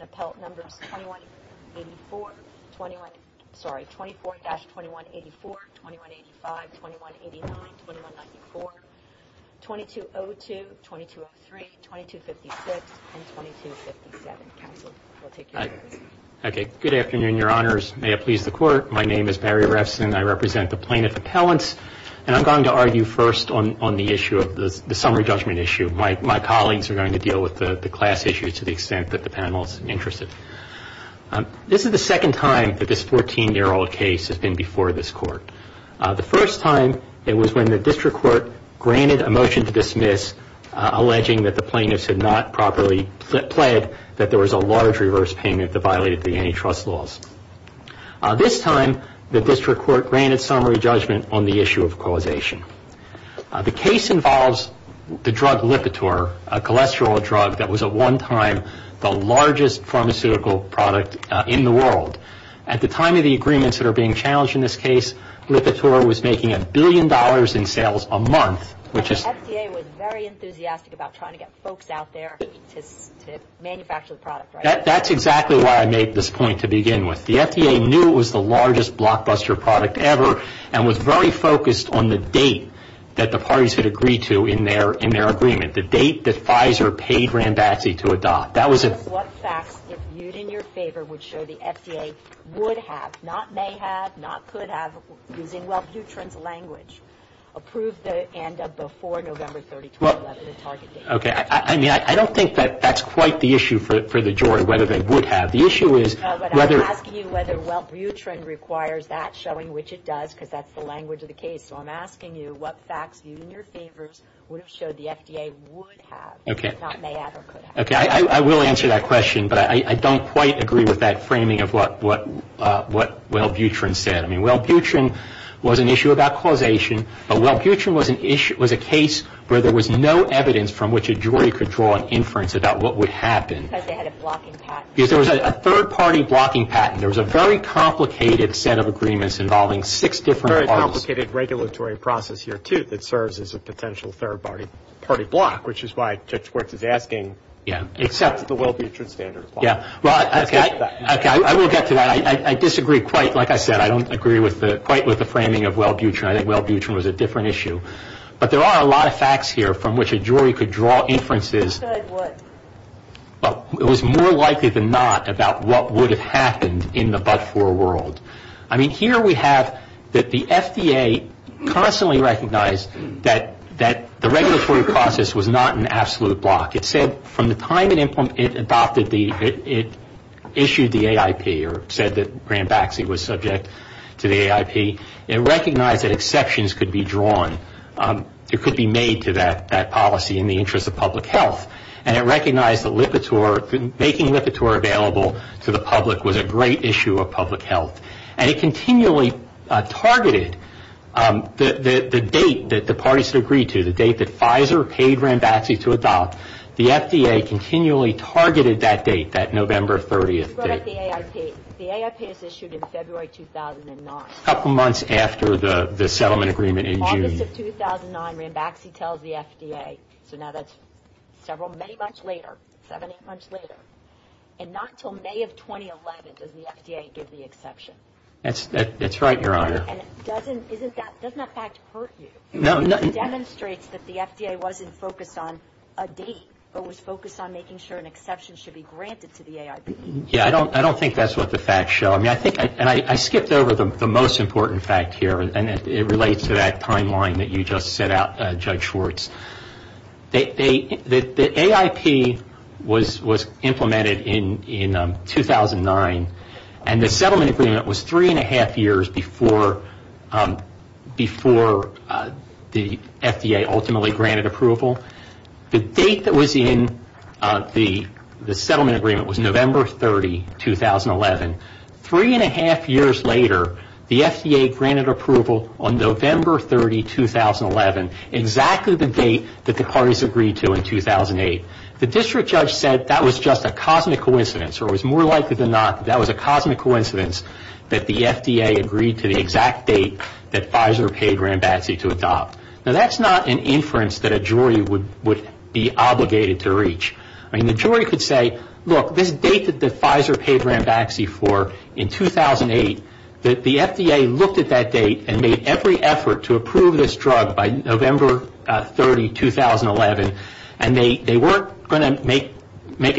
Appellate Numbers 24-2184, 2185, 2189, 2194, 2202, 2203, 2256, and 2257, counsel, we'll take your orders. Okay. Good afternoon, your honors. May it please the court. My name is Barry Refson. I represent the plaintiff appellants, and I'm going to argue first on the issue of the summary judgment issue. My colleagues are going to deal with the class issue to the extent that the panel is interested. This is the second time that this 14-year-old case has been before this court. The first time, it was when the district court granted a motion to dismiss alleging that the plaintiffs had not properly pled that there was a large reverse payment that violated the antitrust laws. This time, the district court granted summary judgment on the issue of causation. The case involves the drug Lipitor, a cholesterol drug that was at one time the largest pharmaceutical product in the world. At the time of the agreements that are being challenged in this case, Lipitor was making a billion dollars in sales a month, which is... The FDA was very enthusiastic about trying to get folks out there to manufacture the product, right? That's exactly why I made this point to begin with. The FDA knew it was the largest blockbuster product ever and was very focused on the date that the parties had agreed to in their agreement, the date that Pfizer paid Rambazzi to adopt. That was... What facts, if viewed in your favor, would show the FDA would have, not may have, not could have, using Wellbutrin's language, approved the end of before November 30, 2011, the target date? I don't think that's quite the issue for the jury, whether they would have. The issue is... I'm asking you whether Wellbutrin requires that, showing which it does, because that's the language of the case. I'm asking you what facts, viewed in your favor, would have showed the FDA would have, not may have, or could have. I will answer that question, but I don't quite agree with that framing of what Wellbutrin said. Wellbutrin was an issue about causation, but Wellbutrin was a case where there was no evidence from which a jury could draw an inference about what would happen. Because they had a blocking patent. Because there was a third-party blocking patent. There was a very complicated set of agreements involving six different parties. Very complicated regulatory process here, too, that serves as a potential third-party block, which is why Judge Quartz is asking... Yeah. ...except the Wellbutrin standard. Yeah. Well, I... Let's get to that. Okay. I will get to that. I disagree quite, like I said. I don't agree quite with the framing of Wellbutrin. I think Wellbutrin was a different issue. But there are a lot of facts here from which a jury could draw inferences... But it was more likely than not about what would have happened in the but-for world. I mean, here we have that the FDA constantly recognized that the regulatory process was not an absolute block. It said from the time it adopted the... It issued the AIP, or said that Graham Baxley was subject to the AIP, it recognized that exceptions could be drawn, it could be made to that policy in the interest of public health. And it recognized that making Lipitor available to the public was a great issue of public health. And it continually targeted the date that the parties had agreed to, the date that Pfizer paid Graham Baxley to adopt. The FDA continually targeted that date, that November 30th date. You brought up the AIP. The AIP is issued in February 2009. A couple months after the settlement agreement in June. August of 2009, Graham Baxley tells the FDA. So now that's several, many months later, seven, eight months later. And not until May of 2011 does the FDA give the exception. That's right, Your Honor. And doesn't that fact hurt you? No. It demonstrates that the FDA wasn't focused on a date, but was focused on making sure an exception should be granted to the AIP. Yeah. I don't think that's what the facts show. And I skipped over the most important fact here. And it relates to that timeline that you just set out, Judge Schwartz. The AIP was implemented in 2009. And the settlement agreement was three and a half years before the FDA ultimately granted approval. The date that was in the settlement agreement was November 30, 2011. Three and a half years later, the FDA granted approval on November 30, 2011, exactly the date that the parties agreed to in 2008. The district judge said that was just a cosmic coincidence, or it was more likely than not that that was a cosmic coincidence that the FDA agreed to the exact date that Pfizer paid Graham Baxley to adopt. Now, that's not an inference that a jury would be obligated to reach. I mean, the jury could say, look, this date that Pfizer paid Graham Baxley for in 2008, that the FDA looked at that date and made every effort to approve this drug by November 30, 2011. And they weren't going to make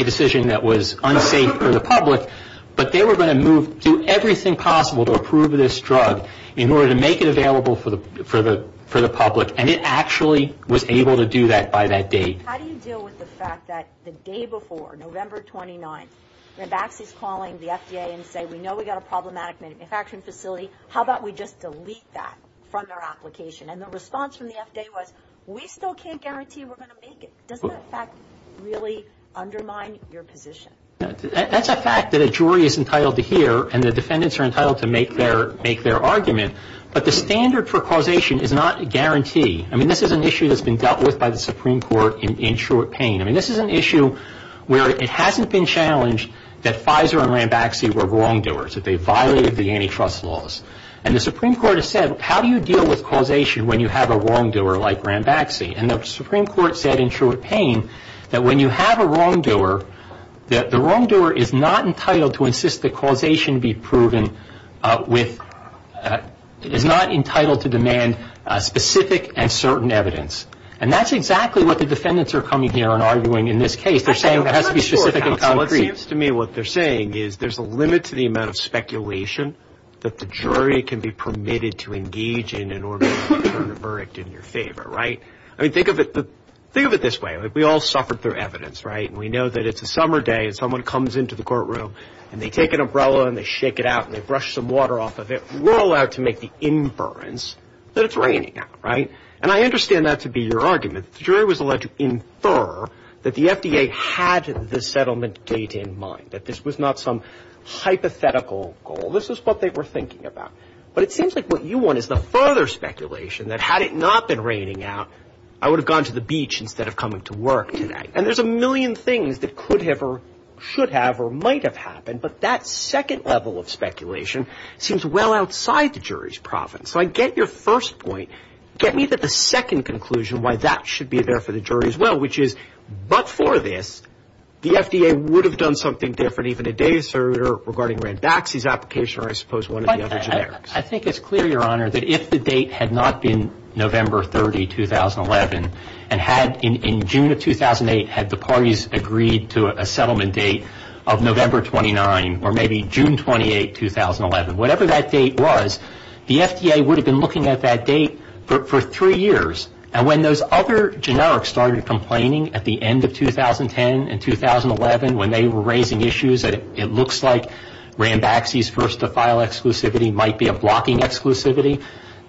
a decision that was unsafe for the public, but they were going to move to do everything possible to approve this drug in order to make it available for the public. And it actually was able to do that by that date. How do you deal with the fact that the day before, November 29, Graham Baxley is calling the FDA and saying, we know we've got a problematic manufacturing facility. How about we just delete that from their application? And the response from the FDA was, we still can't guarantee we're going to make it. Doesn't that fact really undermine your position? That's a fact that a jury is entitled to hear, and the defendants are entitled to make their argument. But the standard for causation is not a guarantee. I mean, this is an issue that's been dealt with by the Supreme Court in Truett Payne. I mean, this is an issue where it hasn't been challenged that Pfizer and Graham Baxley were wrongdoers, that they violated the antitrust laws. And the Supreme Court has said, how do you deal with causation when you have a wrongdoer like Graham Baxley? And the Supreme Court said in Truett Payne that when you have a wrongdoer, that the wrongdoer is not entitled to insist that causation be proven with, is not entitled to demand specific and certain evidence. And that's exactly what the defendants are coming here and arguing in this case. They're saying it has to be specific and concrete. It seems to me what they're saying is there's a limit to the amount of speculation that the jury can be permitted to engage in in order to return a verdict in your favor, right? I mean, think of it, think of it this way. We all suffered through evidence, right? And we know that it's a summer day and someone comes into the courtroom and they take an umbrella and they shake it out and they brush some water off of it. We're allowed to make the inference that it's raining out, right? And I understand that to be your argument, the jury was allowed to infer that the FDA had the settlement date in mind, that this was not some hypothetical goal. This is what they were thinking about. But it seems like what you want is the further speculation that had it not been raining out, I would have gone to the beach instead of coming to work today. And there's a million things that could have or should have or might have happened. But that second level of speculation seems well outside the jury's province. So I get your first point. Get me the second conclusion why that should be there for the jury as well, which is, but for this, the FDA would have done something different even a day sooner regarding Rand Baxley's application or I suppose one of the other generics. I think it's clear, Your Honor, that if the date had not been November 30, 2011, and had in June of 2008 had the parties agreed to a settlement date of November 29 or maybe June 28, 2011, whatever that date was, the FDA would have been looking at that date for three years. And when those other generics started complaining at the end of 2010 and 2011 when they were raising issues that it looks like Rand Baxley's first-to-file exclusivity might be a blocking exclusivity,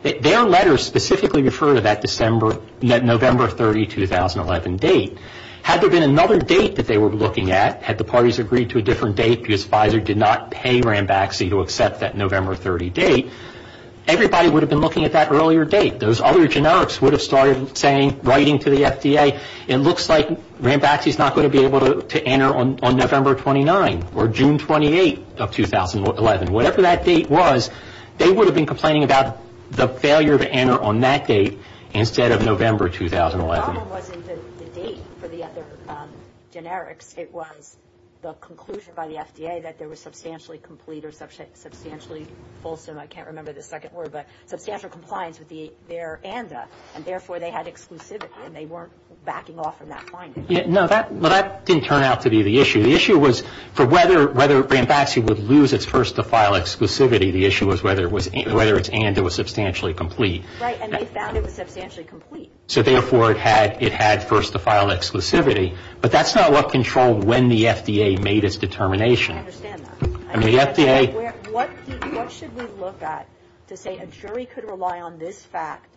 their letters specifically refer to that November 30, 2011 date. Had there been another date that they were looking at, had the parties agreed to a different date because Pfizer did not pay Rand Baxley to accept that November 30 date, everybody would have been looking at that earlier date. Those other generics would have started writing to the FDA, it looks like Rand Baxley's not going to be able to enter on November 29 or June 28 of 2011. Whatever that date was, they would have been complaining about the failure to enter on that date instead of November 2011. The problem wasn't the date for the other generics. It was the conclusion by the FDA that there was substantially complete or substantially fulsome, I can't remember the second word, but substantial compliance with their ANDA and therefore they had exclusivity and they weren't backing off from that finding. No, that didn't turn out to be the issue. The issue was for whether Rand Baxley would lose its first-to-file exclusivity, the issue was whether its ANDA was substantially complete. Right, and they found it was substantially complete. So therefore it had first-to-file exclusivity, but that's not what controlled when the FDA made its determination. I understand that. What should we look at to say a jury could rely on this fact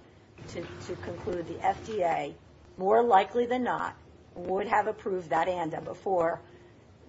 to conclude the FDA, more likely than not, would have approved that ANDA before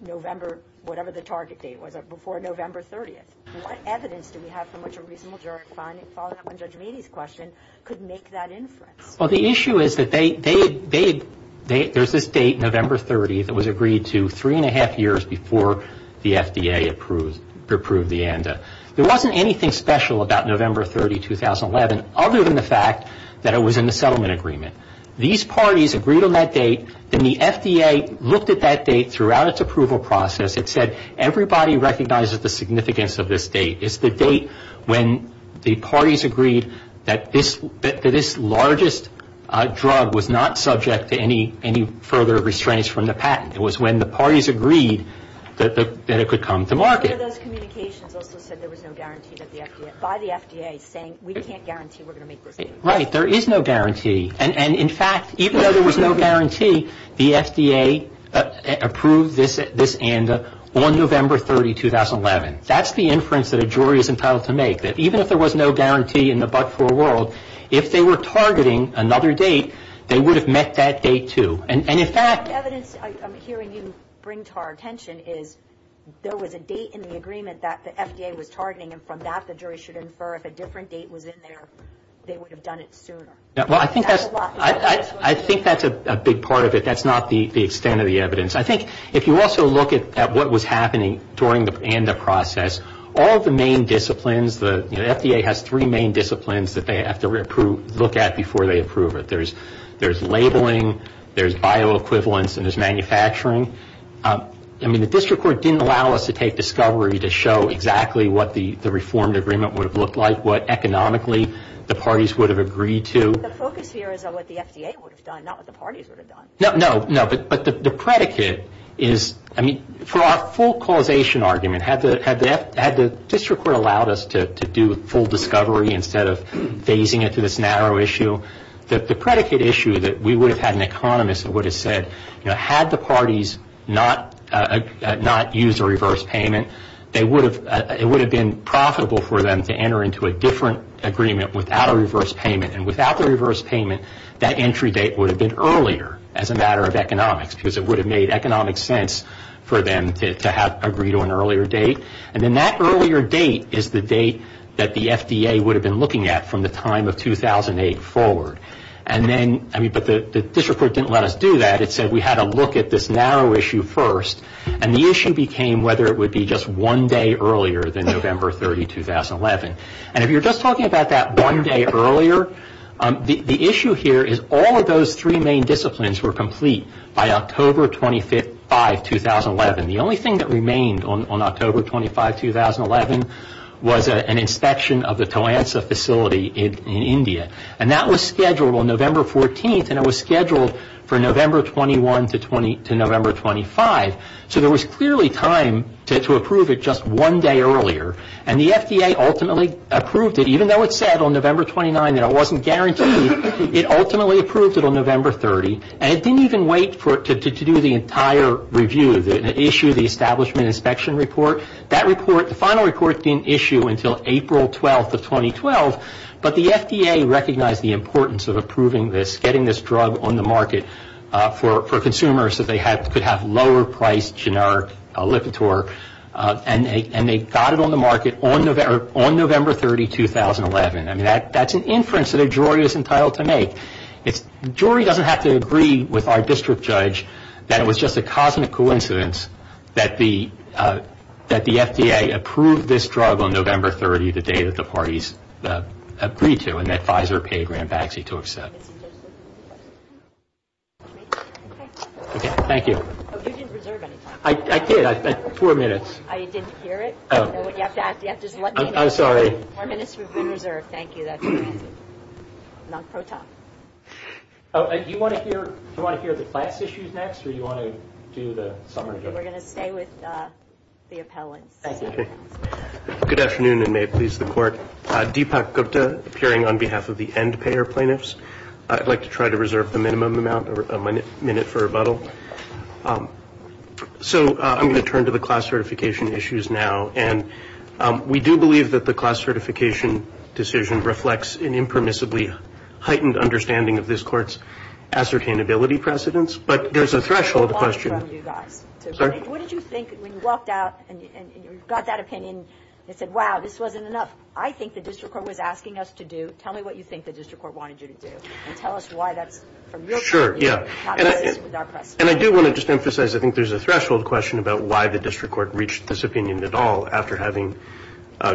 November, whatever the target date was, before November 30th? What evidence do we have from which a reasonable jury, following up on Judge Meady's question, could make that inference? Well, the issue is that they, there's this date, November 30th, that was agreed to three and a half years before the FDA approved the ANDA. There wasn't anything special about November 30, 2011, other than the fact that it was in the settlement agreement. These parties agreed on that date, then the FDA looked at that date throughout its approval process, it said, everybody recognizes the significance of this date. It's the date when the parties agreed that this largest drug was not subject to any further restraints from the patent. It was when the parties agreed that it could come to market. One of those communications also said there was no guarantee that the FDA, by the FDA, saying we can't guarantee we're going to make this date. Right, there is no guarantee, and in fact, even though there was no guarantee, the FDA approved this ANDA on November 30, 2011. That's the inference that a jury is entitled to make, that even if there was no guarantee in the but-for world, if they were targeting another date, they would have met that date too. And in fact... The evidence I'm hearing you bring to our attention is there was a date in the agreement that the FDA was targeting, and from that the jury should infer if a different date was in there, they would have done it sooner. I think that's a big part of it. That's not the extent of the evidence. I think if you also look at what was happening during the ANDA process, all of the main disciplines, the FDA has three main disciplines that they have to look at before they approve it. There's labeling, there's bioequivalence, and there's manufacturing. I mean, the district court didn't allow us to take discovery to show exactly what the reformed agreement would have looked like, what economically the parties would have agreed to. The focus here is on what the FDA would have done, not what the parties would have done. No, no, but the predicate is, I mean, for our full causation argument, had the district court allowed us to do full discovery instead of phasing it to this narrow issue, the predicate issue that we would have had an economist that would have said, you know, had the parties not used a reverse payment, it would have been profitable for them to enter into a different agreement without a reverse payment, and without the reverse payment, that entry date would have been earlier as a matter of economics, because it would have made economic sense for them to have agreed to an earlier date. And then that earlier date is the date that the FDA would have been looking at from the time of 2008 forward. And then, I mean, but the district court didn't let us do that. It said we had to look at this narrow issue first, and the issue became whether it would be just one day earlier than November 30, 2011. And if you're just talking about that one day earlier, the issue here is all of those three main disciplines were complete by October 25, 2011. The only thing that remained on October 25, 2011, was an inspection of the Toansa facility in India. And that was scheduled on November 14, and it was scheduled for November 21 to November 25. So there was clearly time to approve it just one day earlier. And the FDA ultimately approved it, even though it said on November 29 that it wasn't guaranteed, it ultimately approved it on November 30. And it didn't even wait to do the entire review, the issue, the establishment inspection report. That report, the final report didn't issue until April 12 of 2012. But the FDA recognized the importance of approving this, getting this drug on the market for consumers so they could have lower priced generic Lipitor, and they got it on the market on November 30, 2011. I mean, that's an inference that a jury is entitled to make. Jury doesn't have to agree with our district judge that it was just a cosmic coincidence that the FDA approved this drug on November 30, the day that the parties agreed to and that Pfizer paid Rambaxi to accept. Thank you. Oh, you didn't reserve any time. I did. I spent four minutes. I didn't hear it. You have to just let me know. I'm sorry. Four minutes, we've been reserved. Thank you. That's fantastic. Non-pro-top. Do you want to hear the class issues next, or do you want to do the summary? We're going to stay with the appellants. Good afternoon, and may it please the Court. Deepak Gupta, appearing on behalf of the end-payer plaintiffs. I'd like to try to reserve the minimum amount, a minute for rebuttal. So I'm going to turn to the class certification issues now. And we do believe that the class certification decision reflects an impermissibly heightened understanding of this Court's ascertainability precedence, but there's a threshold question. What did you think when you walked out and you got that opinion and said, wow, this wasn't enough, I think the district court was asking us to do, tell me what you think the district court wanted you to do, and tell us why that's, from your point of view, not consistent with our precedence. And I do want to just emphasize, I think there's a threshold question about why the district court reached this opinion at all after having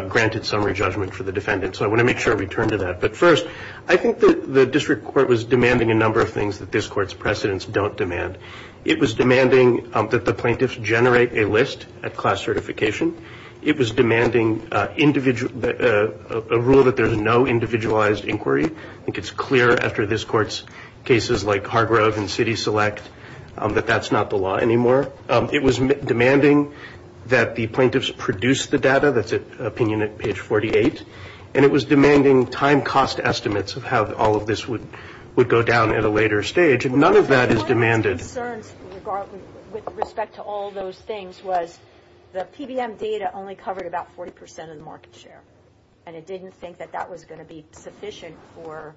granted summary judgment for the defendant. So I want to make sure I return to that. But first, I think the district court was demanding a number of things that this Court's precedence don't demand. It was demanding that the plaintiffs generate a list at class certification. It was demanding a rule that there's no individualized inquiry. I think it's clear after this Court's cases like Hargrove and City Select that that's not the law anymore. It was demanding that the plaintiffs produce the data. That's an opinion at page 48. And it was demanding time cost estimates of how all of this would go down at a later stage. None of that is demanded. One of the plaintiff's concerns with respect to all of those things was the PBM data only covered about 40 percent of the market share, and it didn't think that that was going to be sufficient for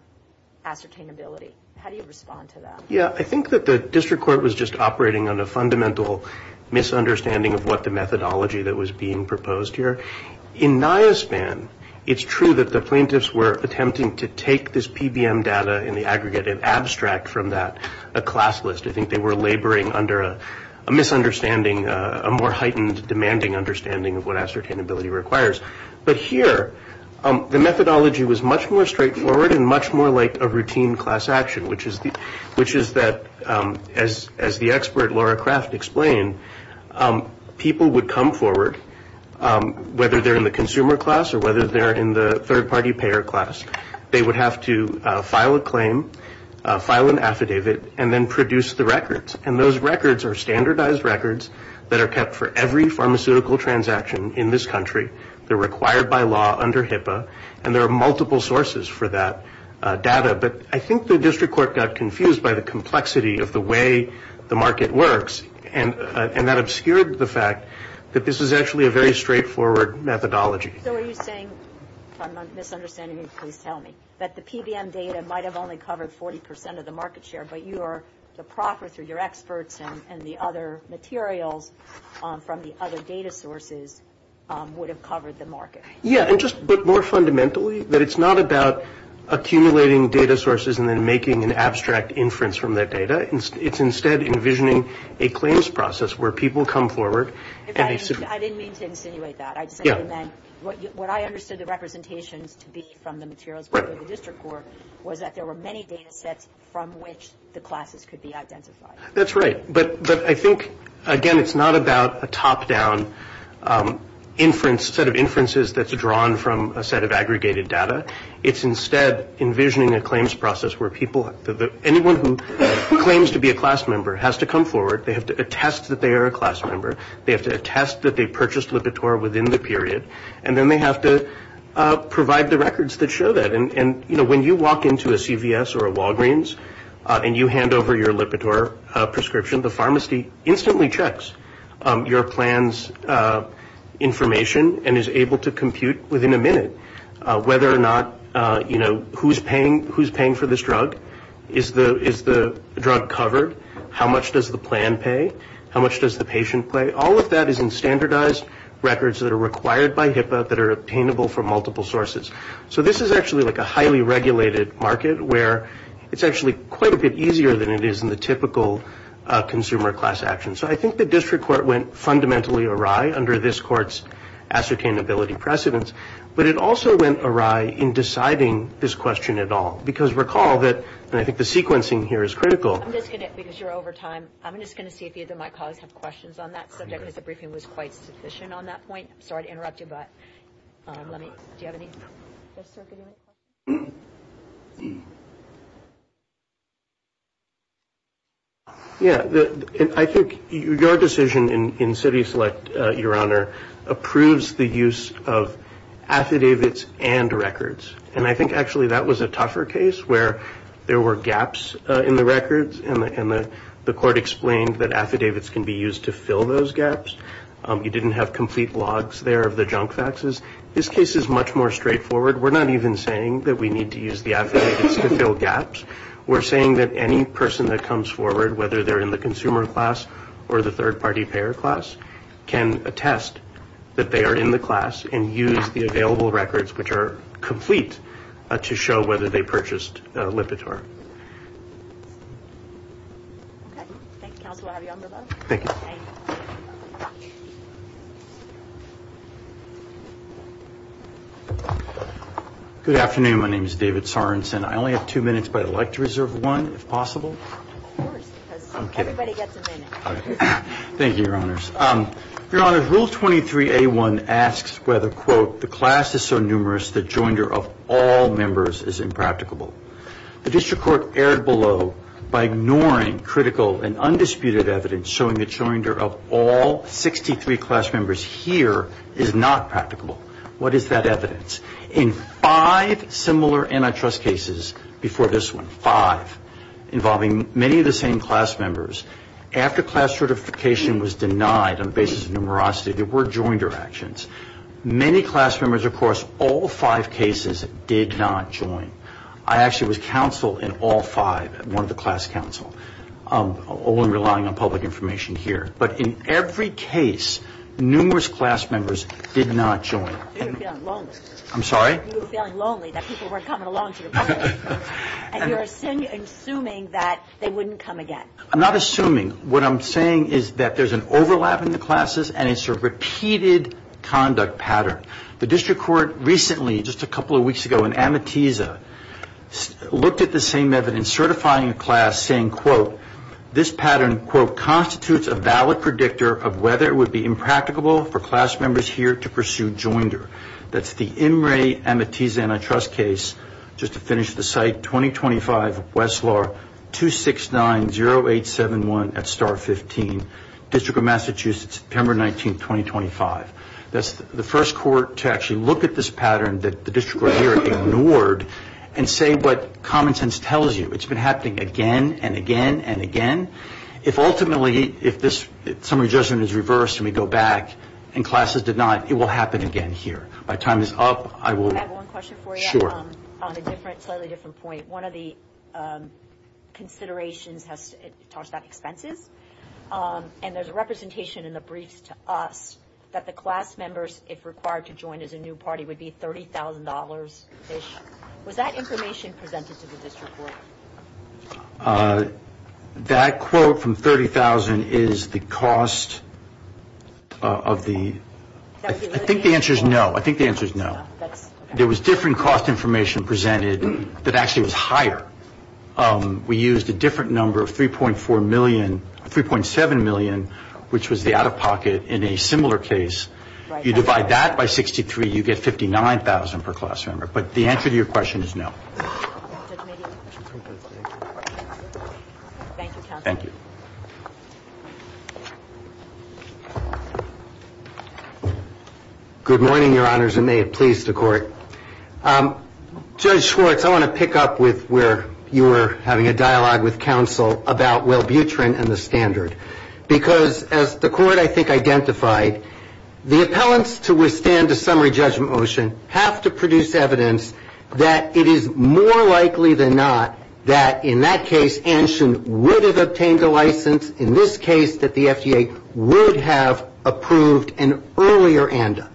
ascertainability. How do you respond to that? Yeah, I think that the district court was just operating on a fundamental misunderstanding of what the methodology that was being proposed here. In NIOSPAN, it's true that the plaintiffs were attempting to take this PBM data in the aggregate and abstract from that a class list. I think they were laboring under a misunderstanding, a more heightened demanding understanding of what ascertainability requires. But here, the methodology was much more straightforward and much more like a routine class action, which is that, as the expert Laura Kraft explained, people would come forward, whether they're in the consumer class or whether they're in the third-party payer class, they would have to file a claim, file an affidavit, and then produce the records. And those records are standardized records that are kept for every pharmaceutical transaction in this country. They're required by law under HIPAA, and there are multiple sources for that data. But I think the district court got confused by the complexity of the way the market works, and that obscured the fact that this is actually a very straightforward methodology. So are you saying, if I'm misunderstanding you, please tell me, that the PBM data might have only covered 40 percent of the market share, but you are to proffer through your experts and the other materials from the other data sources would have covered the market? Yeah, but more fundamentally, that it's not about accumulating data sources and then making an abstract inference from that data. It's instead envisioning a claims process where people come forward. I didn't mean to insinuate that. What I understood the representations to be from the materials from the district court was that there were many data sets from which the classes could be identified. That's right. But I think, again, it's not about a top-down set of inferences that's drawn from a set of aggregated data. It's instead envisioning a claims process where anyone who claims to be a class member has to come forward. They have to attest that they are a class member. They have to attest that they purchased Lipitor within the period, and then they have to provide the records that show that. And, you know, when you walk into a CVS or a Walgreens and you hand over your Lipitor prescription, the pharmacy instantly checks your plan's information and is able to compute within a minute whether or not, you know, who's paying for this drug, is the drug covered, how much does the plan pay, how much does the patient pay. All of that is in standardized records that are required by HIPAA that are obtainable from multiple sources. So this is actually like a highly regulated market where it's actually quite a bit easier than it is in the typical consumer class action. So I think the district court went fundamentally awry under this court's ascertainability precedence, but it also went awry in deciding this question at all. Because recall that, and I think the sequencing here is critical. I'm just going to, because you're over time, I'm just going to see if either of my colleagues have questions on that subject, because the briefing was quite sufficient on that point. I'm sorry to interrupt you, but do you have any? Yeah, I think your decision in city select, Your Honor, approves the use of affidavits and records. And I think actually that was a tougher case where there were gaps in the records and the court explained that affidavits can be used to fill those gaps. You didn't have complete logs there of the junk faxes. This case is much more straightforward. We're not even saying that we need to use the affidavits to fill gaps. We're saying that any person that comes forward, whether they're in the consumer class or the third-party payer class, can attest that they are in the class and use the available records, which are complete, to show whether they purchased Lipitor. Okay, thank you, Counselor. I'll have you on the line. Thank you. Good afternoon. My name is David Sorensen. I only have two minutes, but I'd like to reserve one, if possible. Of course, because everybody gets a minute. Thank you, Your Honors. Your Honors, Rule 23A1 asks whether, quote, the class is so numerous the joinder of all members is impracticable. The district court erred below by ignoring critical and undisputed evidence showing the joinder of all 63 class members here is not practicable. What is that evidence? In five similar antitrust cases before this one, five, involving many of the same class members, after class certification was denied on the basis of numerosity, there were joinder actions. Many class members, of course, all five cases did not join. I actually was counsel in all five, one of the class counsel, only relying on public information here. But in every case, numerous class members did not join. You were feeling lonely. I'm sorry? You were feeling lonely, that people weren't coming along to your party, and you're assuming that they wouldn't come again. I'm not assuming. What I'm saying is that there's an overlap in the classes, and it's a repeated conduct pattern. The district court recently, just a couple of weeks ago, in Amatiza, looked at the same evidence certifying a class saying, quote, this pattern, quote, constitutes a valid predictor of whether it would be impracticable for class members here to pursue joinder. That's the Imre Amatiza antitrust case. Just to finish the site, 2025, Westlaw, 2690871 at Star 15, District of Massachusetts, September 19th, 2025. That's the first court to actually look at this pattern that the district court here ignored and say what common sense tells you. It's been happening again and again and again. If ultimately, if this summary judgment is reversed and we go back and classes denied, it will happen again here. By the time this is up, I will. Can I have one question for you? On a slightly different point. One of the considerations talks about expenses, and there's a representation in the briefs to us that the class members, if required to join as a new party, would be $30,000-ish. Was that information presented to the district court? That quote from $30,000 is the cost of the? I think the answer is no. I think the answer is no. There was different cost information presented that actually was higher. We used a different number of $3.4 million, $3.7 million, which was the out-of-pocket in a similar case. You divide that by 63, you get $59,000 per class member. But the answer to your question is no. Thank you, counsel. Thank you. Good morning, Your Honors, and may it please the Court. Judge Schwartz, I want to pick up with where you were having a dialogue with counsel about Will Butrin and the standard. Because as the Court, I think, identified, the appellants to withstand the summary judgment motion have to produce evidence that it is more likely than not that, in that case, Anshin would have obtained a license, in this case, that the FDA would have approved an earlier ANDA.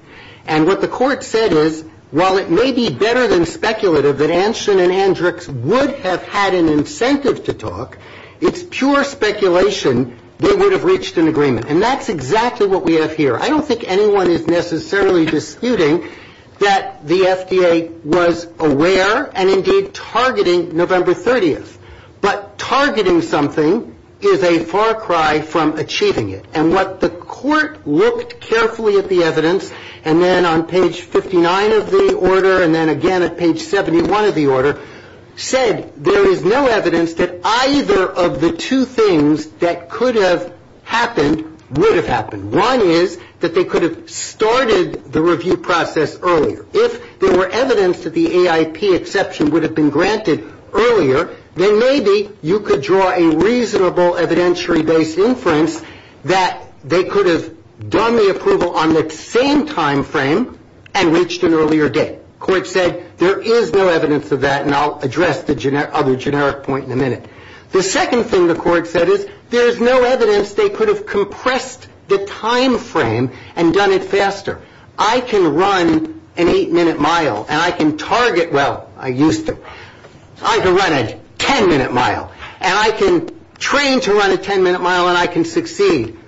And what the Court said is, while it may be better than speculative that Anshin and Andrix would have had an incentive to talk, it's pure speculation they would have reached an agreement. And that's exactly what we have here. I don't think anyone is necessarily disputing that the FDA was aware and indeed targeting November 30th. But targeting something is a far cry from achieving it. And what the Court looked carefully at the evidence, and then on page 59 of the order and then again at page 71 of the order, said there is no evidence that either of the two things that could have happened would have happened. One is that they could have started the review process earlier. If there were evidence that the AIP exception would have been granted earlier, then maybe you could draw a reasonable evidentiary-based inference that they could have done the approval on the same timeframe and reached an earlier date. The Court said there is no evidence of that, and I'll address the other generic point in a minute. The second thing the Court said is there is no evidence they could have compressed the timeframe and done it faster. I can run an eight-minute mile, and I can target, well, I used to. I can run a ten-minute mile, and I can train to run a ten-minute mile, and I can succeed.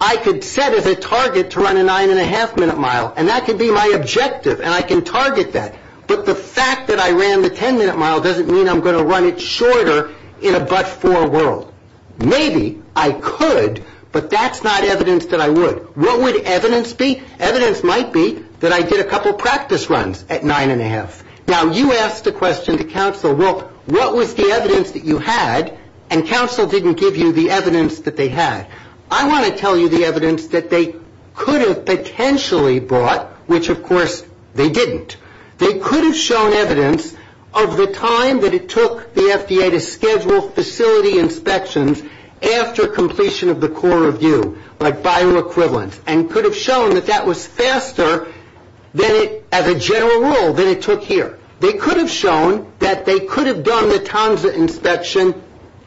I could set as a target to run a nine-and-a-half-minute mile, and that could be my objective, and I can target that. But the fact that I ran the ten-minute mile doesn't mean I'm going to run it shorter in a but-for world. Maybe I could, but that's not evidence that I would. What would evidence be? Evidence might be that I did a couple practice runs at nine-and-a-half. Now, you asked a question to counsel, well, what was the evidence that you had, and counsel didn't give you the evidence that they had. I want to tell you the evidence that they could have potentially brought, which, of course, they didn't. They could have shown evidence of the time that it took the FDA to schedule facility inspections after completion of the core review, like bioequivalence, and could have shown that that was faster than it, as a general rule, than it took here. They could have shown that they could have done the TANSA inspection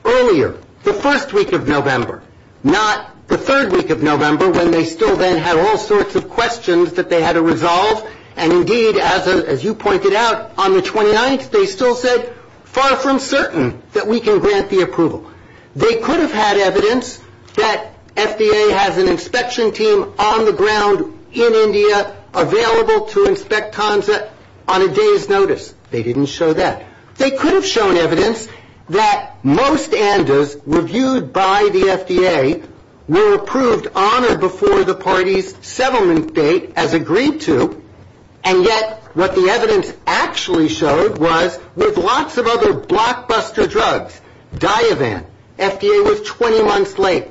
earlier, the first week of November, not the third week of November when they still then had all sorts of questions that they had to resolve, and indeed, as you pointed out, on the 29th they still said, far from certain that we can grant the approval. They could have had evidence that FDA has an inspection team on the ground in India available to inspect TANSA on a day's notice. They didn't show that. They could have shown evidence that most ANDAs reviewed by the FDA were approved on or before the party's settlement date as agreed to, and yet what the evidence actually showed was with lots of other blockbuster drugs. Diavan, FDA was 20 months late.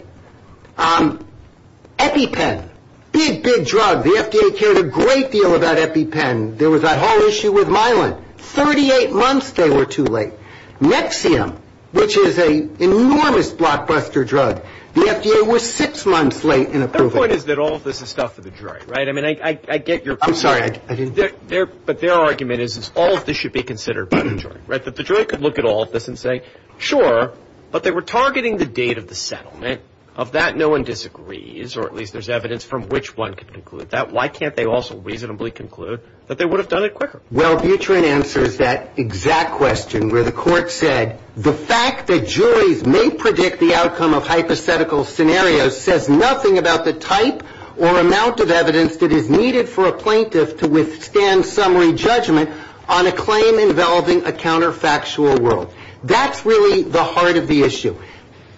EpiPen, big, big drug. The FDA cared a great deal about EpiPen. There was that whole issue with Myelin. Thirty-eight months they were too late. Nexium, which is an enormous blockbuster drug. The FDA was six months late in approving it. Their point is that all of this is stuff for the jury, right? I mean, I get your point. But their argument is all of this should be considered by the jury, right, that the jury could look at all of this and say, sure, but they were targeting the date of the settlement. Of that, no one disagrees, or at least there's evidence from which one could conclude that. Why can't they also reasonably conclude that they would have done it quicker? Well, Buterin answers that exact question where the court said, the fact that juries may predict the outcome of hypothetical scenarios says nothing about the type or amount of evidence that is needed for a plaintiff to withstand summary judgment on a claim involving a counterfactual world. That's really the heart of the issue.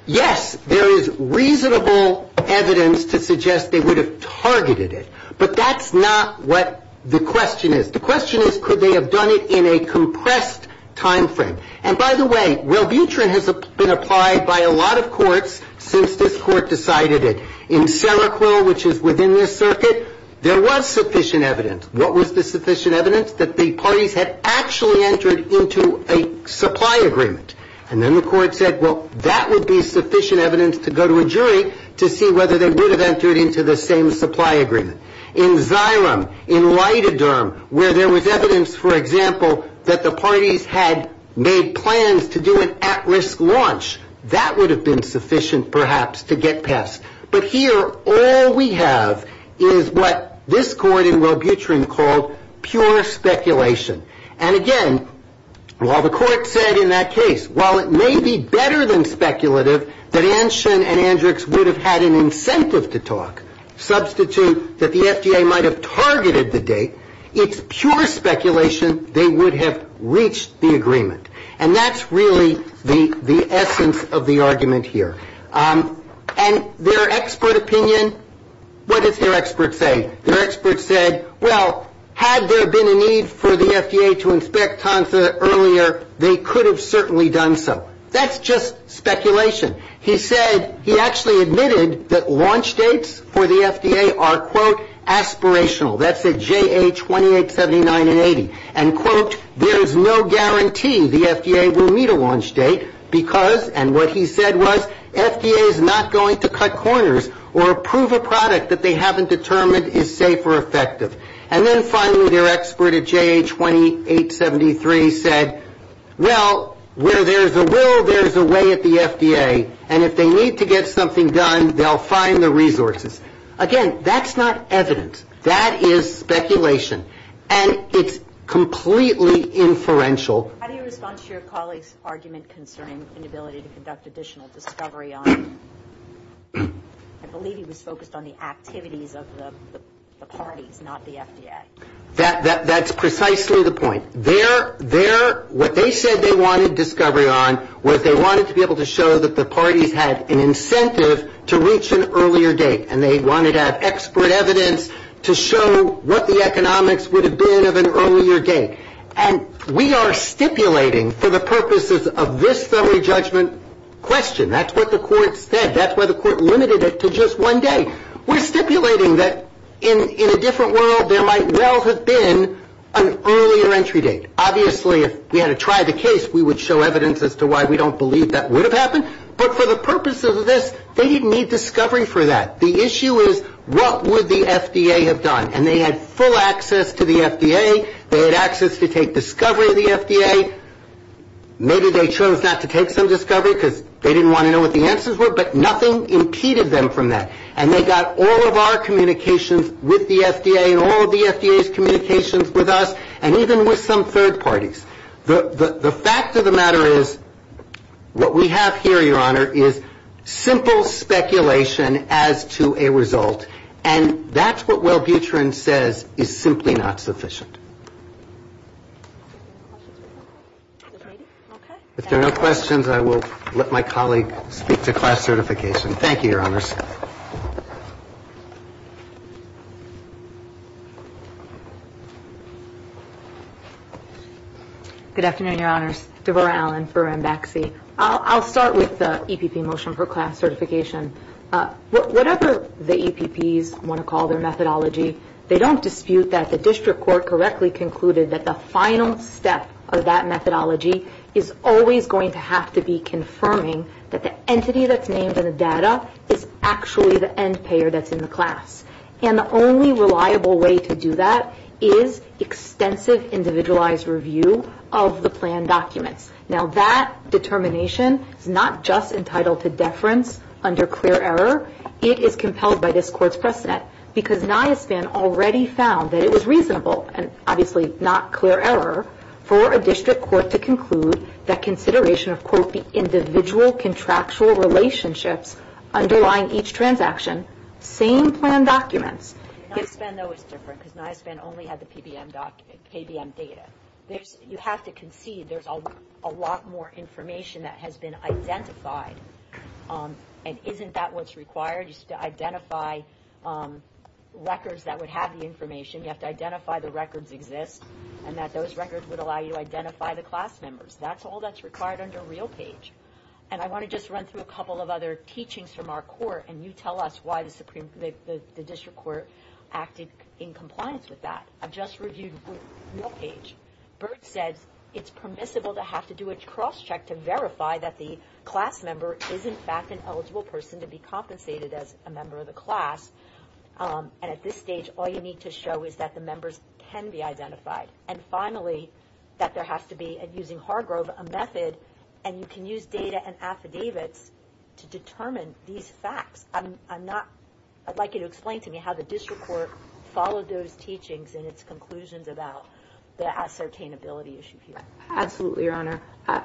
Yes, there is reasonable evidence to suggest they would have targeted it, but that's not what the question is. The question is, could they have done it in a compressed timeframe? And by the way, well, Buterin has been applied by a lot of courts since this court decided it. In Seroquel, which is within this circuit, there was sufficient evidence. What was the sufficient evidence? That the parties had actually entered into a supply agreement. And then the court said, well, that would be sufficient evidence to go to a jury to see whether they would have entered into the same supply agreement. In Ziram, in Leitaderm, where there was evidence, for example, that the parties had made plans to do an at-risk launch, that would have been sufficient, perhaps, to get past. But here, all we have is what this court in Robutrin called pure speculation. And again, while the court said in that case, while it may be better than speculative, that Anshin and Andrix would have had an incentive to talk, substitute that the FDA might have targeted the date, it's pure speculation they would have reached the agreement. And that's really the essence of the argument here. And their expert opinion, what does their expert say? Their expert said, well, had there been a need for the FDA to inspect Tonsa earlier, they could have certainly done so. That's just speculation. He actually admitted that launch dates for the FDA are, quote, aspirational. That's at JA2879 and 80. And, quote, there's no guarantee the FDA will meet a launch date because, and what he said was, FDA is not going to cut corners or approve a product that they haven't determined is safe or effective. And then finally, their expert at JA2873 said, well, where there's a will, there's a way at the FDA. And if they need to get something done, they'll find the resources. Again, that's not evidence. That is speculation. And it's completely inferential. How do you respond to your colleague's argument concerning inability to conduct additional discovery on, I believe he was focused on the activities of the parties, not the FDA. That's precisely the point. What they said they wanted discovery on was they wanted to be able to show that the parties had an incentive to reach an earlier date, and they wanted to have expert evidence to show what the economics would have been of an earlier date. And we are stipulating for the purposes of this summary judgment question, that's what the court said, that's why the court limited it to just one day. We're stipulating that in a different world, there might well have been an earlier entry date. Obviously, if we had to try the case, we would show evidence as to why we don't believe that would have happened. But for the purpose of this, they didn't need discovery for that. The issue is, what would the FDA have done? And they had full access to the FDA. They had access to take discovery of the FDA. Maybe they chose not to take some discovery because they didn't want to know what the answers were, but nothing impeded them from that. And they got all of our communications with the FDA, and all of the FDA's communications with us, and even with some third parties. The fact of the matter is, what we have here, Your Honor, is simple speculation as to a result, and that's what Wellbutrin says is simply not sufficient. If there are no questions, I will let my colleague speak to class certification. Thank you, Your Honors. Good afternoon, Your Honors. Devorah Allen for Mbaxi. I'll start with the EPP motion for class certification. Whatever the EPPs want to call their methodology, they don't dispute that the district court correctly concluded that the final step of that methodology is always going to have to be confirming that the entity that's named in the data is actually the end payer that's in the class. And the only reliable way to do that is extensive individualized review of the plan documents. Now, that determination is not just entitled to deference under clear error. It is compelled by this Court's precedent, because NIOSPAN already found that it was reasonable, and obviously not clear error, for a district court to conclude that consideration of, quote, the individual contractual relationships underlying each transaction, same plan documents. NIOSPAN, though, is different, because NIOSPAN only had the KBM data. You have to concede there's a lot more information that has been identified, and isn't that what's required? You still identify records that would have the information. You have to identify the records exist, and that those records would allow you to identify the class members. That's all that's required under RealPage. And I want to just run through a couple of other teachings from our court, and you tell us why the district court acted in compliance with that. I've just reviewed RealPage. Burt said it's permissible to have to do a cross-check to verify that the class member is, in fact, an eligible person to be compensated as a member of the class. And at this stage, all you need to show is that the members can be identified. And finally, that there has to be, using Hargrove, a method, and you can use data and affidavits to determine these facts. I'd like you to explain to me how the district court followed those teachings and its conclusions about the ascertainability issue here. Absolutely, Your Honor.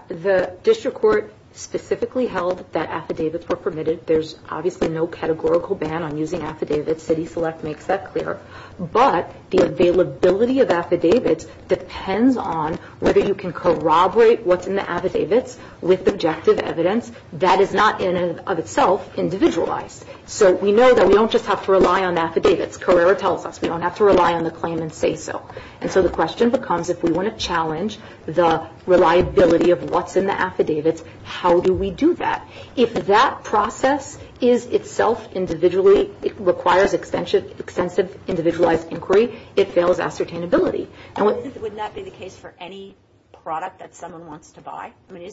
The district court specifically held that affidavits were permitted. There's obviously no categorical ban on using affidavits. CitiSelect makes that clear. But the availability of affidavits depends on whether you can corroborate what's in the affidavits with objective evidence that is not, in and of itself, individualized. So we know that we don't just have to rely on affidavits. Carrera tells us we don't have to rely on the claim and say so. And so the question becomes, if we want to challenge the reliability of what's in the affidavits, how do we do that? If that process is itself individually, it requires extensive individualized inquiry, it fails ascertainability. Wouldn't that be the case for any product that someone wants to buy? I mean,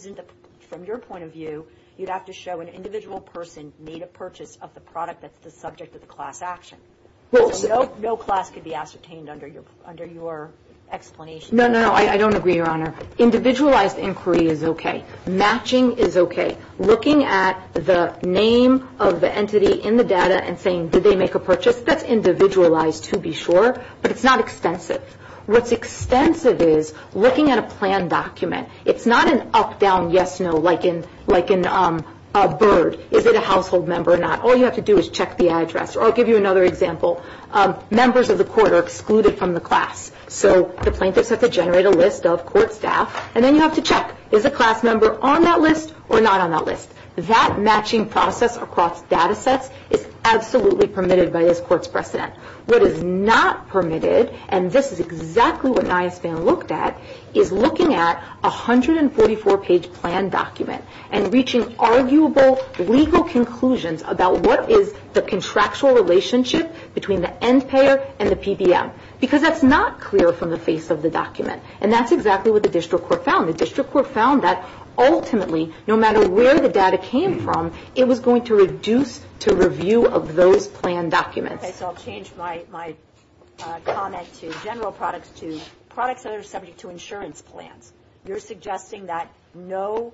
from your point of view, you'd have to show an individual person made a purchase of the product that's the subject of the class action. No class could be ascertained under your explanation. No, no, no. I don't agree, Your Honor. Individualized inquiry is okay. Matching is okay. Looking at the name of the entity in the data and saying, did they make a purchase, that's individualized to be sure, but it's not extensive. What's extensive is looking at a plan document. It's not an up-down yes-no like in a bird. Is it a household member or not? All you have to do is check the address. Or I'll give you another example. Members of the court are excluded from the class, so the plaintiffs have to generate a list of court staff, and then you have to check, is a class member on that list or not on that list? That matching process across data sets is absolutely permitted by this Court's precedent. What is not permitted, and this is exactly what NISBAN looked at, is looking at a 144-page plan document and reaching arguable legal conclusions about what is the contractual relationship between the end payer and the PBM, because that's not clear from the face of the document, and that's exactly what the district court found. The district court found that ultimately, no matter where the data came from, it was going to reduce to review of those plan documents. Okay, so I'll change my comment to general products to products that are subject to insurance plans. You're suggesting that no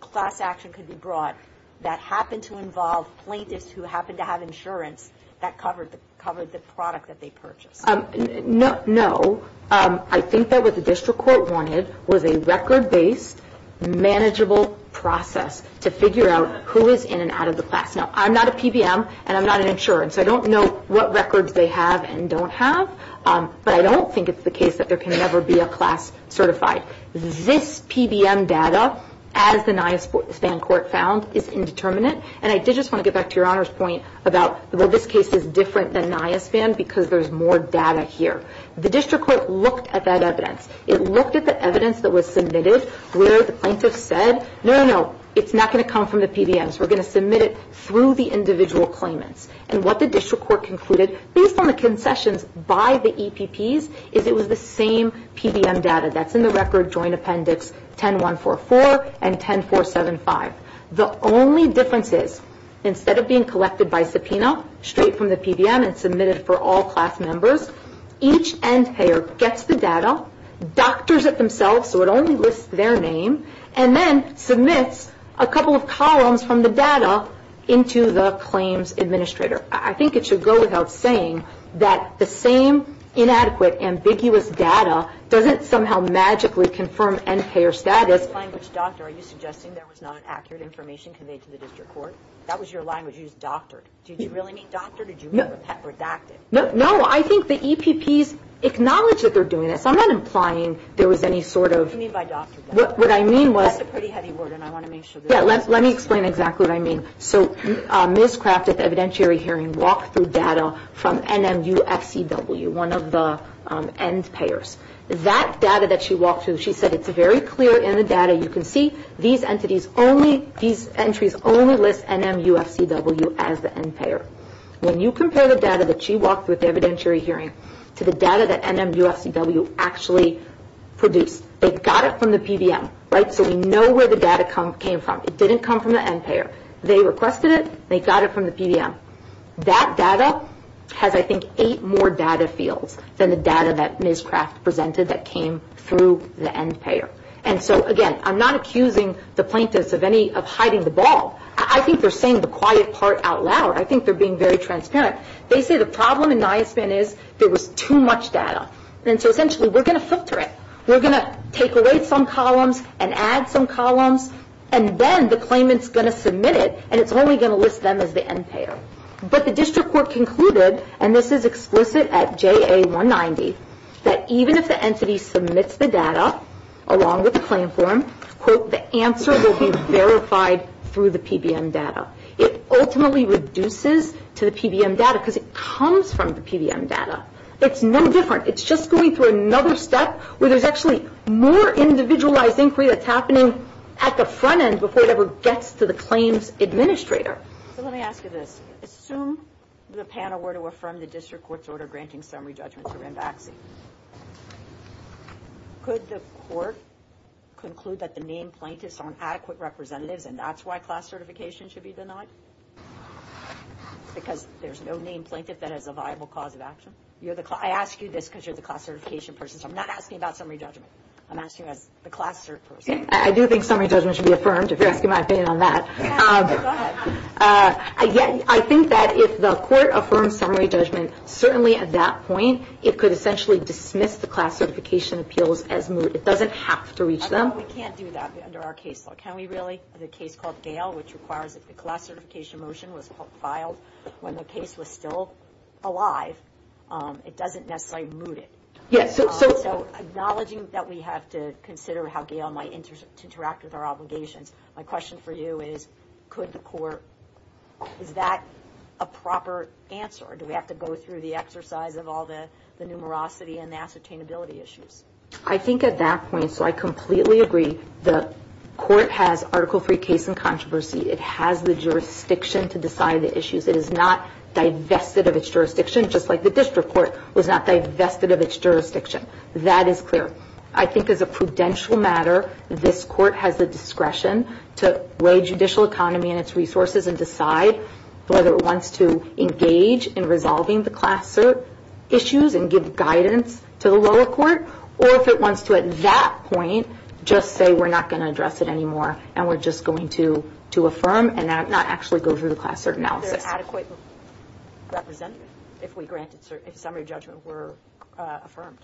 class action could be brought that happened to involve plaintiffs who happened to have insurance that covered the product that they purchased. No. I think that what the district court wanted was a record-based, manageable process to figure out who is in and out of the class. Now, I'm not a PBM, and I'm not an insurer, so I don't know what records they have and don't have, but I don't think it's the case that there can never be a class certified. This PBM data, as the NISBAN court found, is indeterminate, and I did just want to get back to Your Honor's point about, well, this case is different than NISBAN because there's more data here. The district court looked at that evidence. It looked at the evidence that was submitted where the plaintiff said, no, no, no, it's not going to come from the PBMs. We're going to submit it through the individual claimants. And what the district court concluded, based on the concessions by the EPPs, is it was the same PBM data that's in the record joint appendix 10144 and 10475. The only difference is, instead of being collected by subpoena, straight from the PBM and submitted for all class members, each end-payer gets the data, doctors it themselves so it only lists their name, and then submits a couple of columns from the data into the claims administrator. I think it should go without saying that the same inadequate, ambiguous data doesn't somehow magically confirm end-payer status. In this language, doctor, are you suggesting there was not accurate information conveyed to the district court? That was your language. You used doctor. Did you really mean doctor? Did you mean redacted? No, I think the EPPs acknowledge that they're doing this. I'm not implying there was any sort of – What do you mean by doctor? What I mean was – That's a pretty heavy word, and I want to make sure that – Yeah, let me explain exactly what I mean. So Ms. Craft at the evidentiary hearing walked through data from NMUFCW, one of the end-payers. That data that she walked through, she said it's very clear in the data. You can see these entries only list NMUFCW as the end-payer. When you compare the data that she walked through at the evidentiary hearing to the data that NMUFCW actually produced, they got it from the PDM, right? So we know where the data came from. It didn't come from the end-payer. They requested it. They got it from the PDM. That data has, I think, eight more data fields than the data that Ms. Craft presented that came through the end-payer. And so, again, I'm not accusing the plaintiffs of hiding the ball. I think they're saying the quiet part out loud. I think they're being very transparent. They say the problem in NISBAN is there was too much data. And so, essentially, we're going to filter it. We're going to take away some columns and add some columns, and then the claimant's going to submit it, and it's only going to list them as the end-payer. But the district court concluded, and this is explicit at JA190, that even if the entity submits the data along with the claim form, quote, the answer will be verified through the PDM data. It ultimately reduces to the PDM data because it comes from the PDM data. It's no different. It's just going through another step where there's actually more individualized inquiry that's happening at the front end before it ever gets to the claims administrator. So let me ask you this. Assume the panel were to affirm the district court's order granting summary judgments around vaccine. Could the court conclude that the named plaintiffs aren't adequate representatives, and that's why class certification should be denied? Because there's no named plaintiff that has a viable cause of action? I ask you this because you're the class certification person, so I'm not asking about summary judgment. I'm asking as the class cert person. I do think summary judgment should be affirmed, if you're asking my opinion on that. I think that if the court affirms summary judgment, certainly at that point it could essentially dismiss the class certification appeals as moot. It doesn't have to reach them. We can't do that under our case law, can we really? The case called Gale, which requires that the class certification motion was filed when the case was still alive. It doesn't necessarily moot it. Acknowledging that we have to consider how Gale might interact with our obligations, my question for you is, is that a proper answer? Do we have to go through the exercise of all the numerosity and the ascertainability issues? I think at that point, so I completely agree, the court has article-free case and controversy. It has the jurisdiction to decide the issues. It is not divested of its jurisdiction, just like the district court was not divested of its jurisdiction. That is clear. I think as a prudential matter, this court has the discretion to weigh judicial economy and its resources and decide whether it wants to engage in resolving the class cert issues and give guidance to the lower court, or if it wants to at that point, just say we're not going to address it anymore and we're just going to affirm and not actually go through the class cert analysis. Is there an adequate representative if we granted summary judgment were affirmed?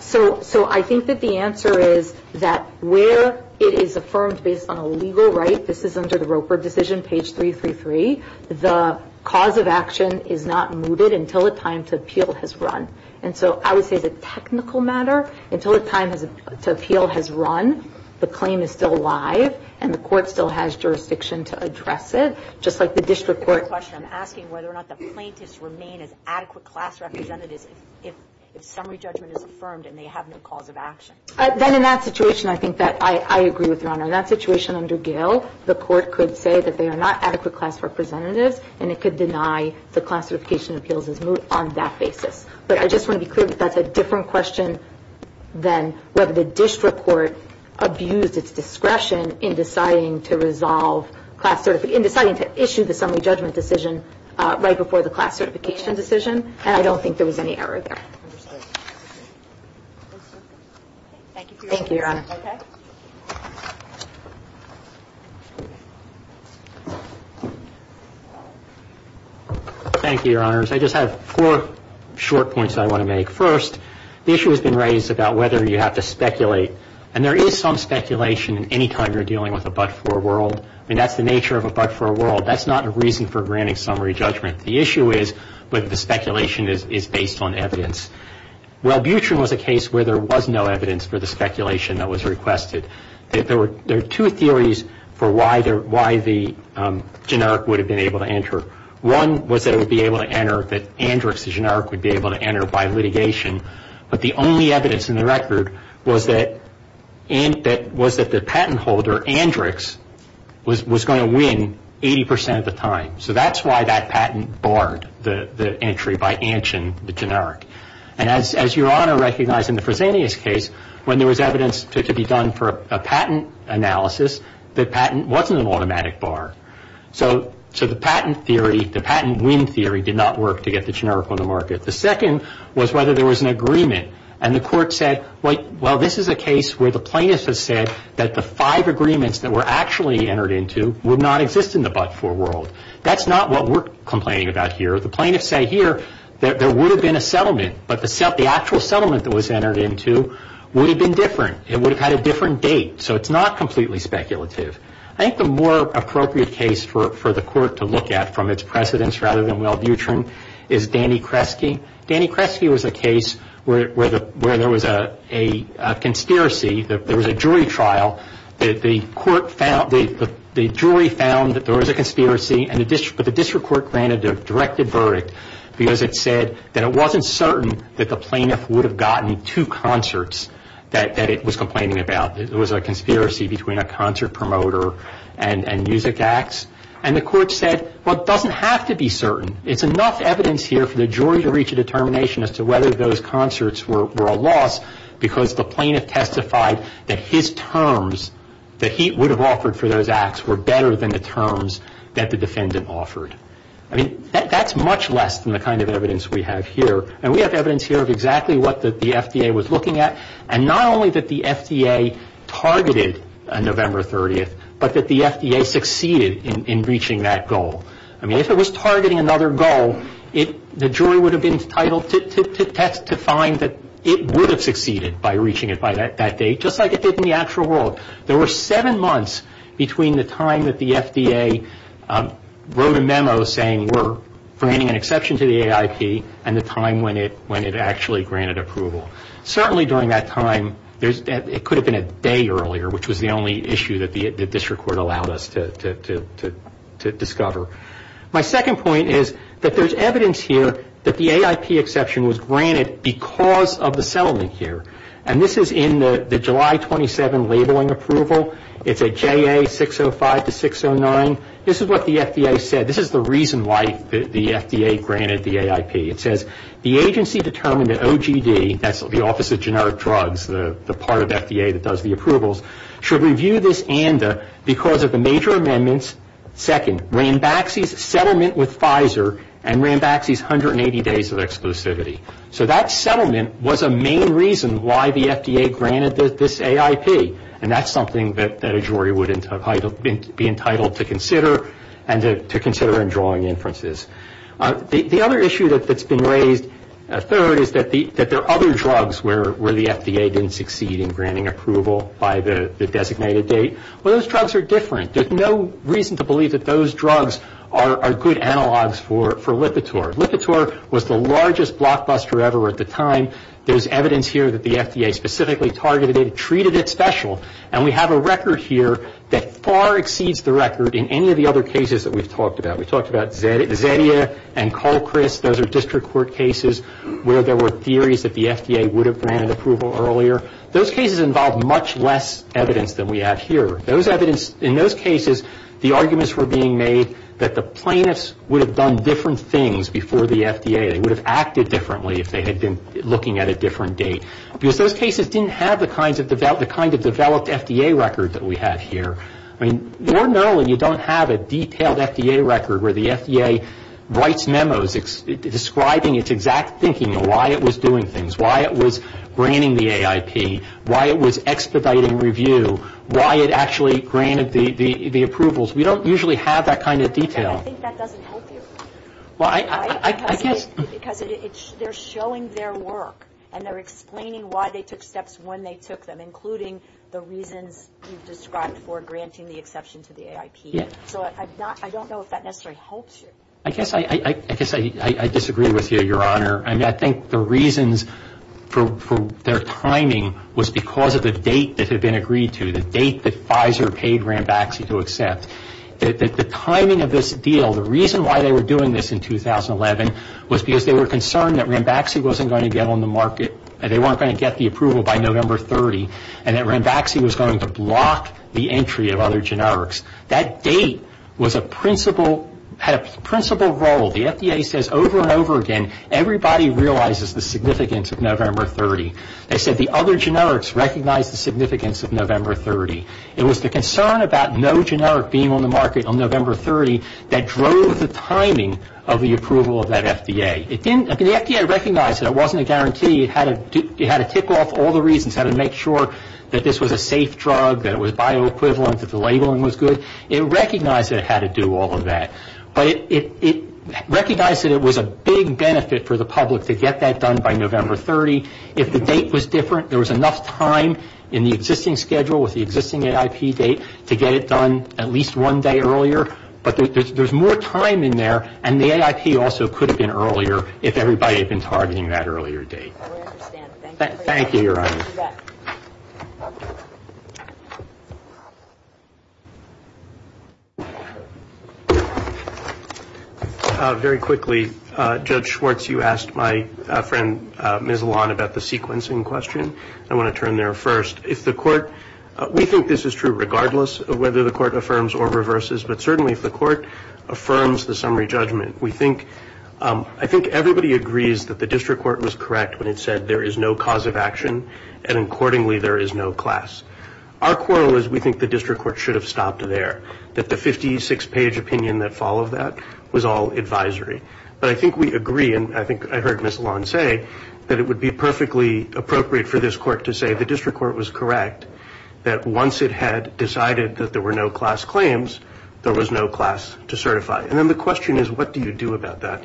So I think that the answer is that where it is affirmed based on a legal right, this is under the Roper decision, page 333, the cause of action is not mooted until the time to appeal has run. And so I would say the technical matter, until the time to appeal has run, the claim is still alive and the court still has jurisdiction to address it, just like the district court. I'm asking whether or not the plaintiffs remain as adequate class representatives if summary judgment is affirmed and they have no cause of action. Then in that situation, I think that I agree with Your Honor. In that situation under Gill, the court could say that they are not adequate class representatives and it could deny the class certification appeals as moot on that basis. But I just want to be clear that that's a different question than whether the district court abused its discretion in deciding to resolve class cert, in deciding to issue the summary judgment decision right before the class certification decision, and I don't think there was any error there. Thank you, Your Honor. Thank you, Your Honors. I just have four short points I want to make. First, the issue has been raised about whether you have to speculate, and there is some speculation in any time you're dealing with a but-for world. I mean, that's the nature of a but-for world. That's not a reason for granting summary judgment. The issue is whether the speculation is based on evidence. Well, Butrin was a case where there was no evidence for the speculation that was requested. There are two theories for why the generic would have been able to enter. One was that it would be able to enter, that Andrix, the generic, would be able to enter by litigation, but the only evidence in the record was that the patent holder, Andrix, was going to win 80% of the time. So that's why that patent barred the entry by Antion, the generic. And as Your Honor recognized in the Fresenius case, when there was evidence to be done for a patent analysis, the patent wasn't an automatic bar. So the patent theory, the patent win theory, did not work to get the generic on the market. The second was whether there was an agreement, and the court said, well, this is a case where the plaintiff has said that the five agreements that were actually entered into would not exist in the but-for world. That's not what we're complaining about here. The plaintiffs say here that there would have been a settlement, but the actual settlement that was entered into would have been different. It would have had a different date. So it's not completely speculative. I think the more appropriate case for the court to look at from its precedents rather than Will Butrin is Danny Kresge. Danny Kresge was a case where there was a conspiracy. There was a jury trial. The jury found that there was a conspiracy, but the district court granted a directed verdict because it said that it wasn't certain that the plaintiff would have gotten two concerts that it was complaining about. It was a conspiracy between a concert promoter and music acts, and the court said, well, it doesn't have to be certain. It's enough evidence here for the jury to reach a determination as to whether those concerts were a loss because the plaintiff testified that his terms that he would have offered for those acts were better than the terms that the defendant offered. I mean, that's much less than the kind of evidence we have here, and we have evidence here of exactly what the FDA was looking at, and not only that the FDA targeted November 30th, but that the FDA succeeded in reaching that goal. I mean, if it was targeting another goal, the jury would have been entitled to find that it would have succeeded by reaching it by that date, just like it did in the actual world. There were seven months between the time that the FDA wrote a memo saying we're bringing an exception to the AIP and the time when it actually granted approval. Certainly during that time, it could have been a day earlier, which was the only issue that the district court allowed us to discover. My second point is that there's evidence here that the AIP exception was granted because of the settlement here, and this is in the July 27th labeling approval. It's a JA 605 to 609. This is what the FDA said. This is the reason why the FDA granted the AIP. It says, the agency determined that OGD, that's the Office of Generic Drugs, the part of FDA that does the approvals, should review this ANDA because of the major amendments, second, Rambaxi's settlement with Pfizer, and Rambaxi's 180 days of exclusivity. So that settlement was a main reason why the FDA granted this AIP, and that's something that a jury would be entitled to consider and to consider in drawing inferences. The other issue that's been raised, third, is that there are other drugs where the FDA didn't succeed in granting approval by the designated date. Well, those drugs are different. There's no reason to believe that those drugs are good analogs for Lipitor. Lipitor was the largest blockbuster ever at the time. There's evidence here that the FDA specifically targeted it, treated it special, and we have a record here that far exceeds the record in any of the other cases that we've talked about. We talked about Zettia and Colchris. Those are district court cases where there were theories that the FDA would have granted approval earlier. Those cases involved much less evidence than we have here. In those cases, the arguments were being made that the plaintiffs would have done different things before the FDA. They would have acted differently if they had been looking at a different date, because those cases didn't have the kind of developed FDA record that we have here. Ordinarily, you don't have a detailed FDA record where the FDA writes memos describing its exact thinking and why it was doing things, why it was granting the AIP, why it was expediting review, why it actually granted the approvals. We don't usually have that kind of detail. I think that doesn't help you. Well, I guess. Because they're showing their work, and they're explaining why they took steps when they took them, including the reasons you've described for granting the exception to the AIP. So I don't know if that necessarily helps you. I guess I disagree with you, Your Honor. I mean, I think the reasons for their timing was because of the date that had been agreed to, the date that Pfizer paid Rambaxi to accept. The timing of this deal, the reason why they were doing this in 2011, was because they were concerned that Rambaxi wasn't going to get on the market and that Rambaxi was going to block the entry of other generics. That date had a principal role. The FDA says over and over again, everybody realizes the significance of November 30. They said the other generics recognize the significance of November 30. It was the concern about no generic being on the market on November 30 that drove the timing of the approval of that FDA. The FDA recognized that it wasn't a guarantee. It had to tick off all the reasons, had to make sure that this was a safe drug, that it was bioequivalent, that the labeling was good. It recognized that it had to do all of that. But it recognized that it was a big benefit for the public to get that done by November 30. If the date was different, there was enough time in the existing schedule with the existing AIP date to get it done at least one day earlier. But there's more time in there, and the AIP also could have been earlier if everybody had been targeting that earlier date. Thank you, Your Honor. Very quickly, Judge Schwartz, you asked my friend Ms. Lalonde about the sequencing question. I want to turn there first. We think this is true regardless of whether the court affirms or reverses, but certainly if the court affirms the summary judgment, I think everybody agrees that the district court was correct when it said there is no cause of action, and accordingly there is no class. Our quarrel is we think the district court should have stopped there, that the 56-page opinion that followed that was all advisory. But I think we agree, and I think I heard Ms. Lalonde say, that it would be perfectly appropriate for this court to say the district court was correct, that once it had decided that there were no class claims, there was no class to certify. And then the question is, what do you do about that?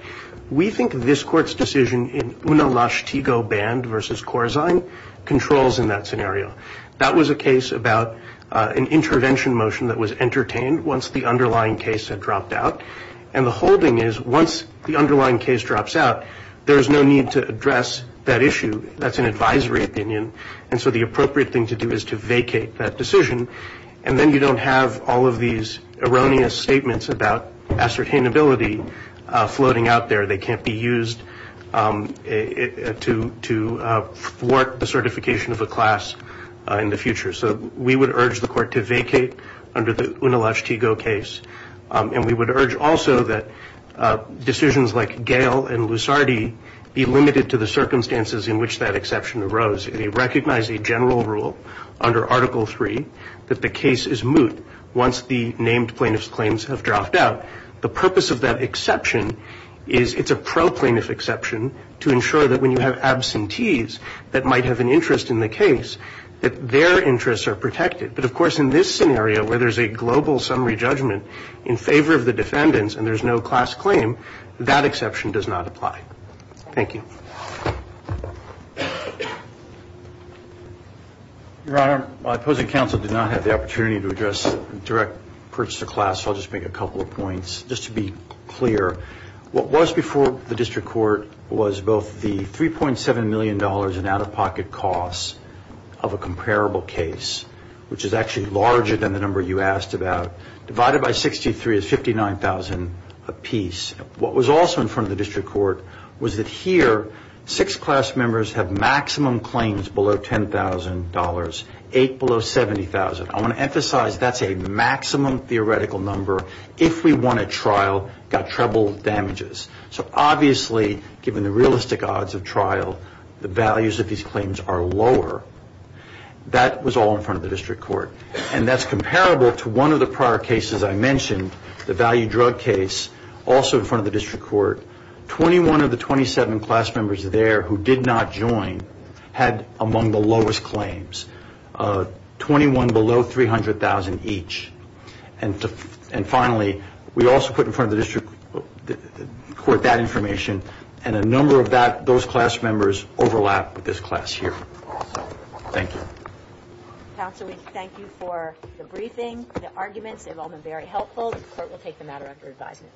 We think this court's decision in Una Lashtigo Band versus Corzine controls in that scenario. That was a case about an intervention motion that was entertained once the underlying case had dropped out, and the holding is once the underlying case drops out, there is no need to address that issue. That's an advisory opinion, and so the appropriate thing to do is to vacate that decision, and then you don't have all of these erroneous statements about ascertainability floating out there. They can't be used to thwart the certification of a class in the future. So we would urge the court to vacate under the Una Lashtigo case, and we would urge also that decisions like Gale and Lusardi be limited to the circumstances in which that exception arose. They recognize a general rule under Article III that the case is moot once the named plaintiff's claims have dropped out. The purpose of that exception is it's a pro-plaintiff exception to ensure that when you have absentees that might have an interest in the case, that their interests are protected. But, of course, in this scenario where there's a global summary judgment in favor of the defendants and there's no class claim, that exception does not apply. Thank you. Your Honor, my opposing counsel did not have the opportunity to address direct purchase of class, so I'll just make a couple of points. Just to be clear, what was before the district court was both the $3.7 million in out-of-pocket costs of a comparable case, which is actually larger than the number you asked about, divided by 63 is $59,000 apiece. What was also in front of the district court was that here six class members have maximum claims below $10,000, eight below $70,000. I want to emphasize that's a maximum theoretical number if we won a trial, got treble damages. So obviously, given the realistic odds of trial, the values of these claims are lower. That was all in front of the district court. And that's comparable to one of the prior cases I mentioned, the value drug case, also in front of the district court. Twenty-one of the 27 class members there who did not join had among the lowest claims, 21 below $300,000 each. And finally, we also put in front of the district court that information, and a number of those class members overlap with this class here. So thank you. Counsel, we thank you for the briefing, the arguments. They've all been very helpful. The court will take the matter under advisement.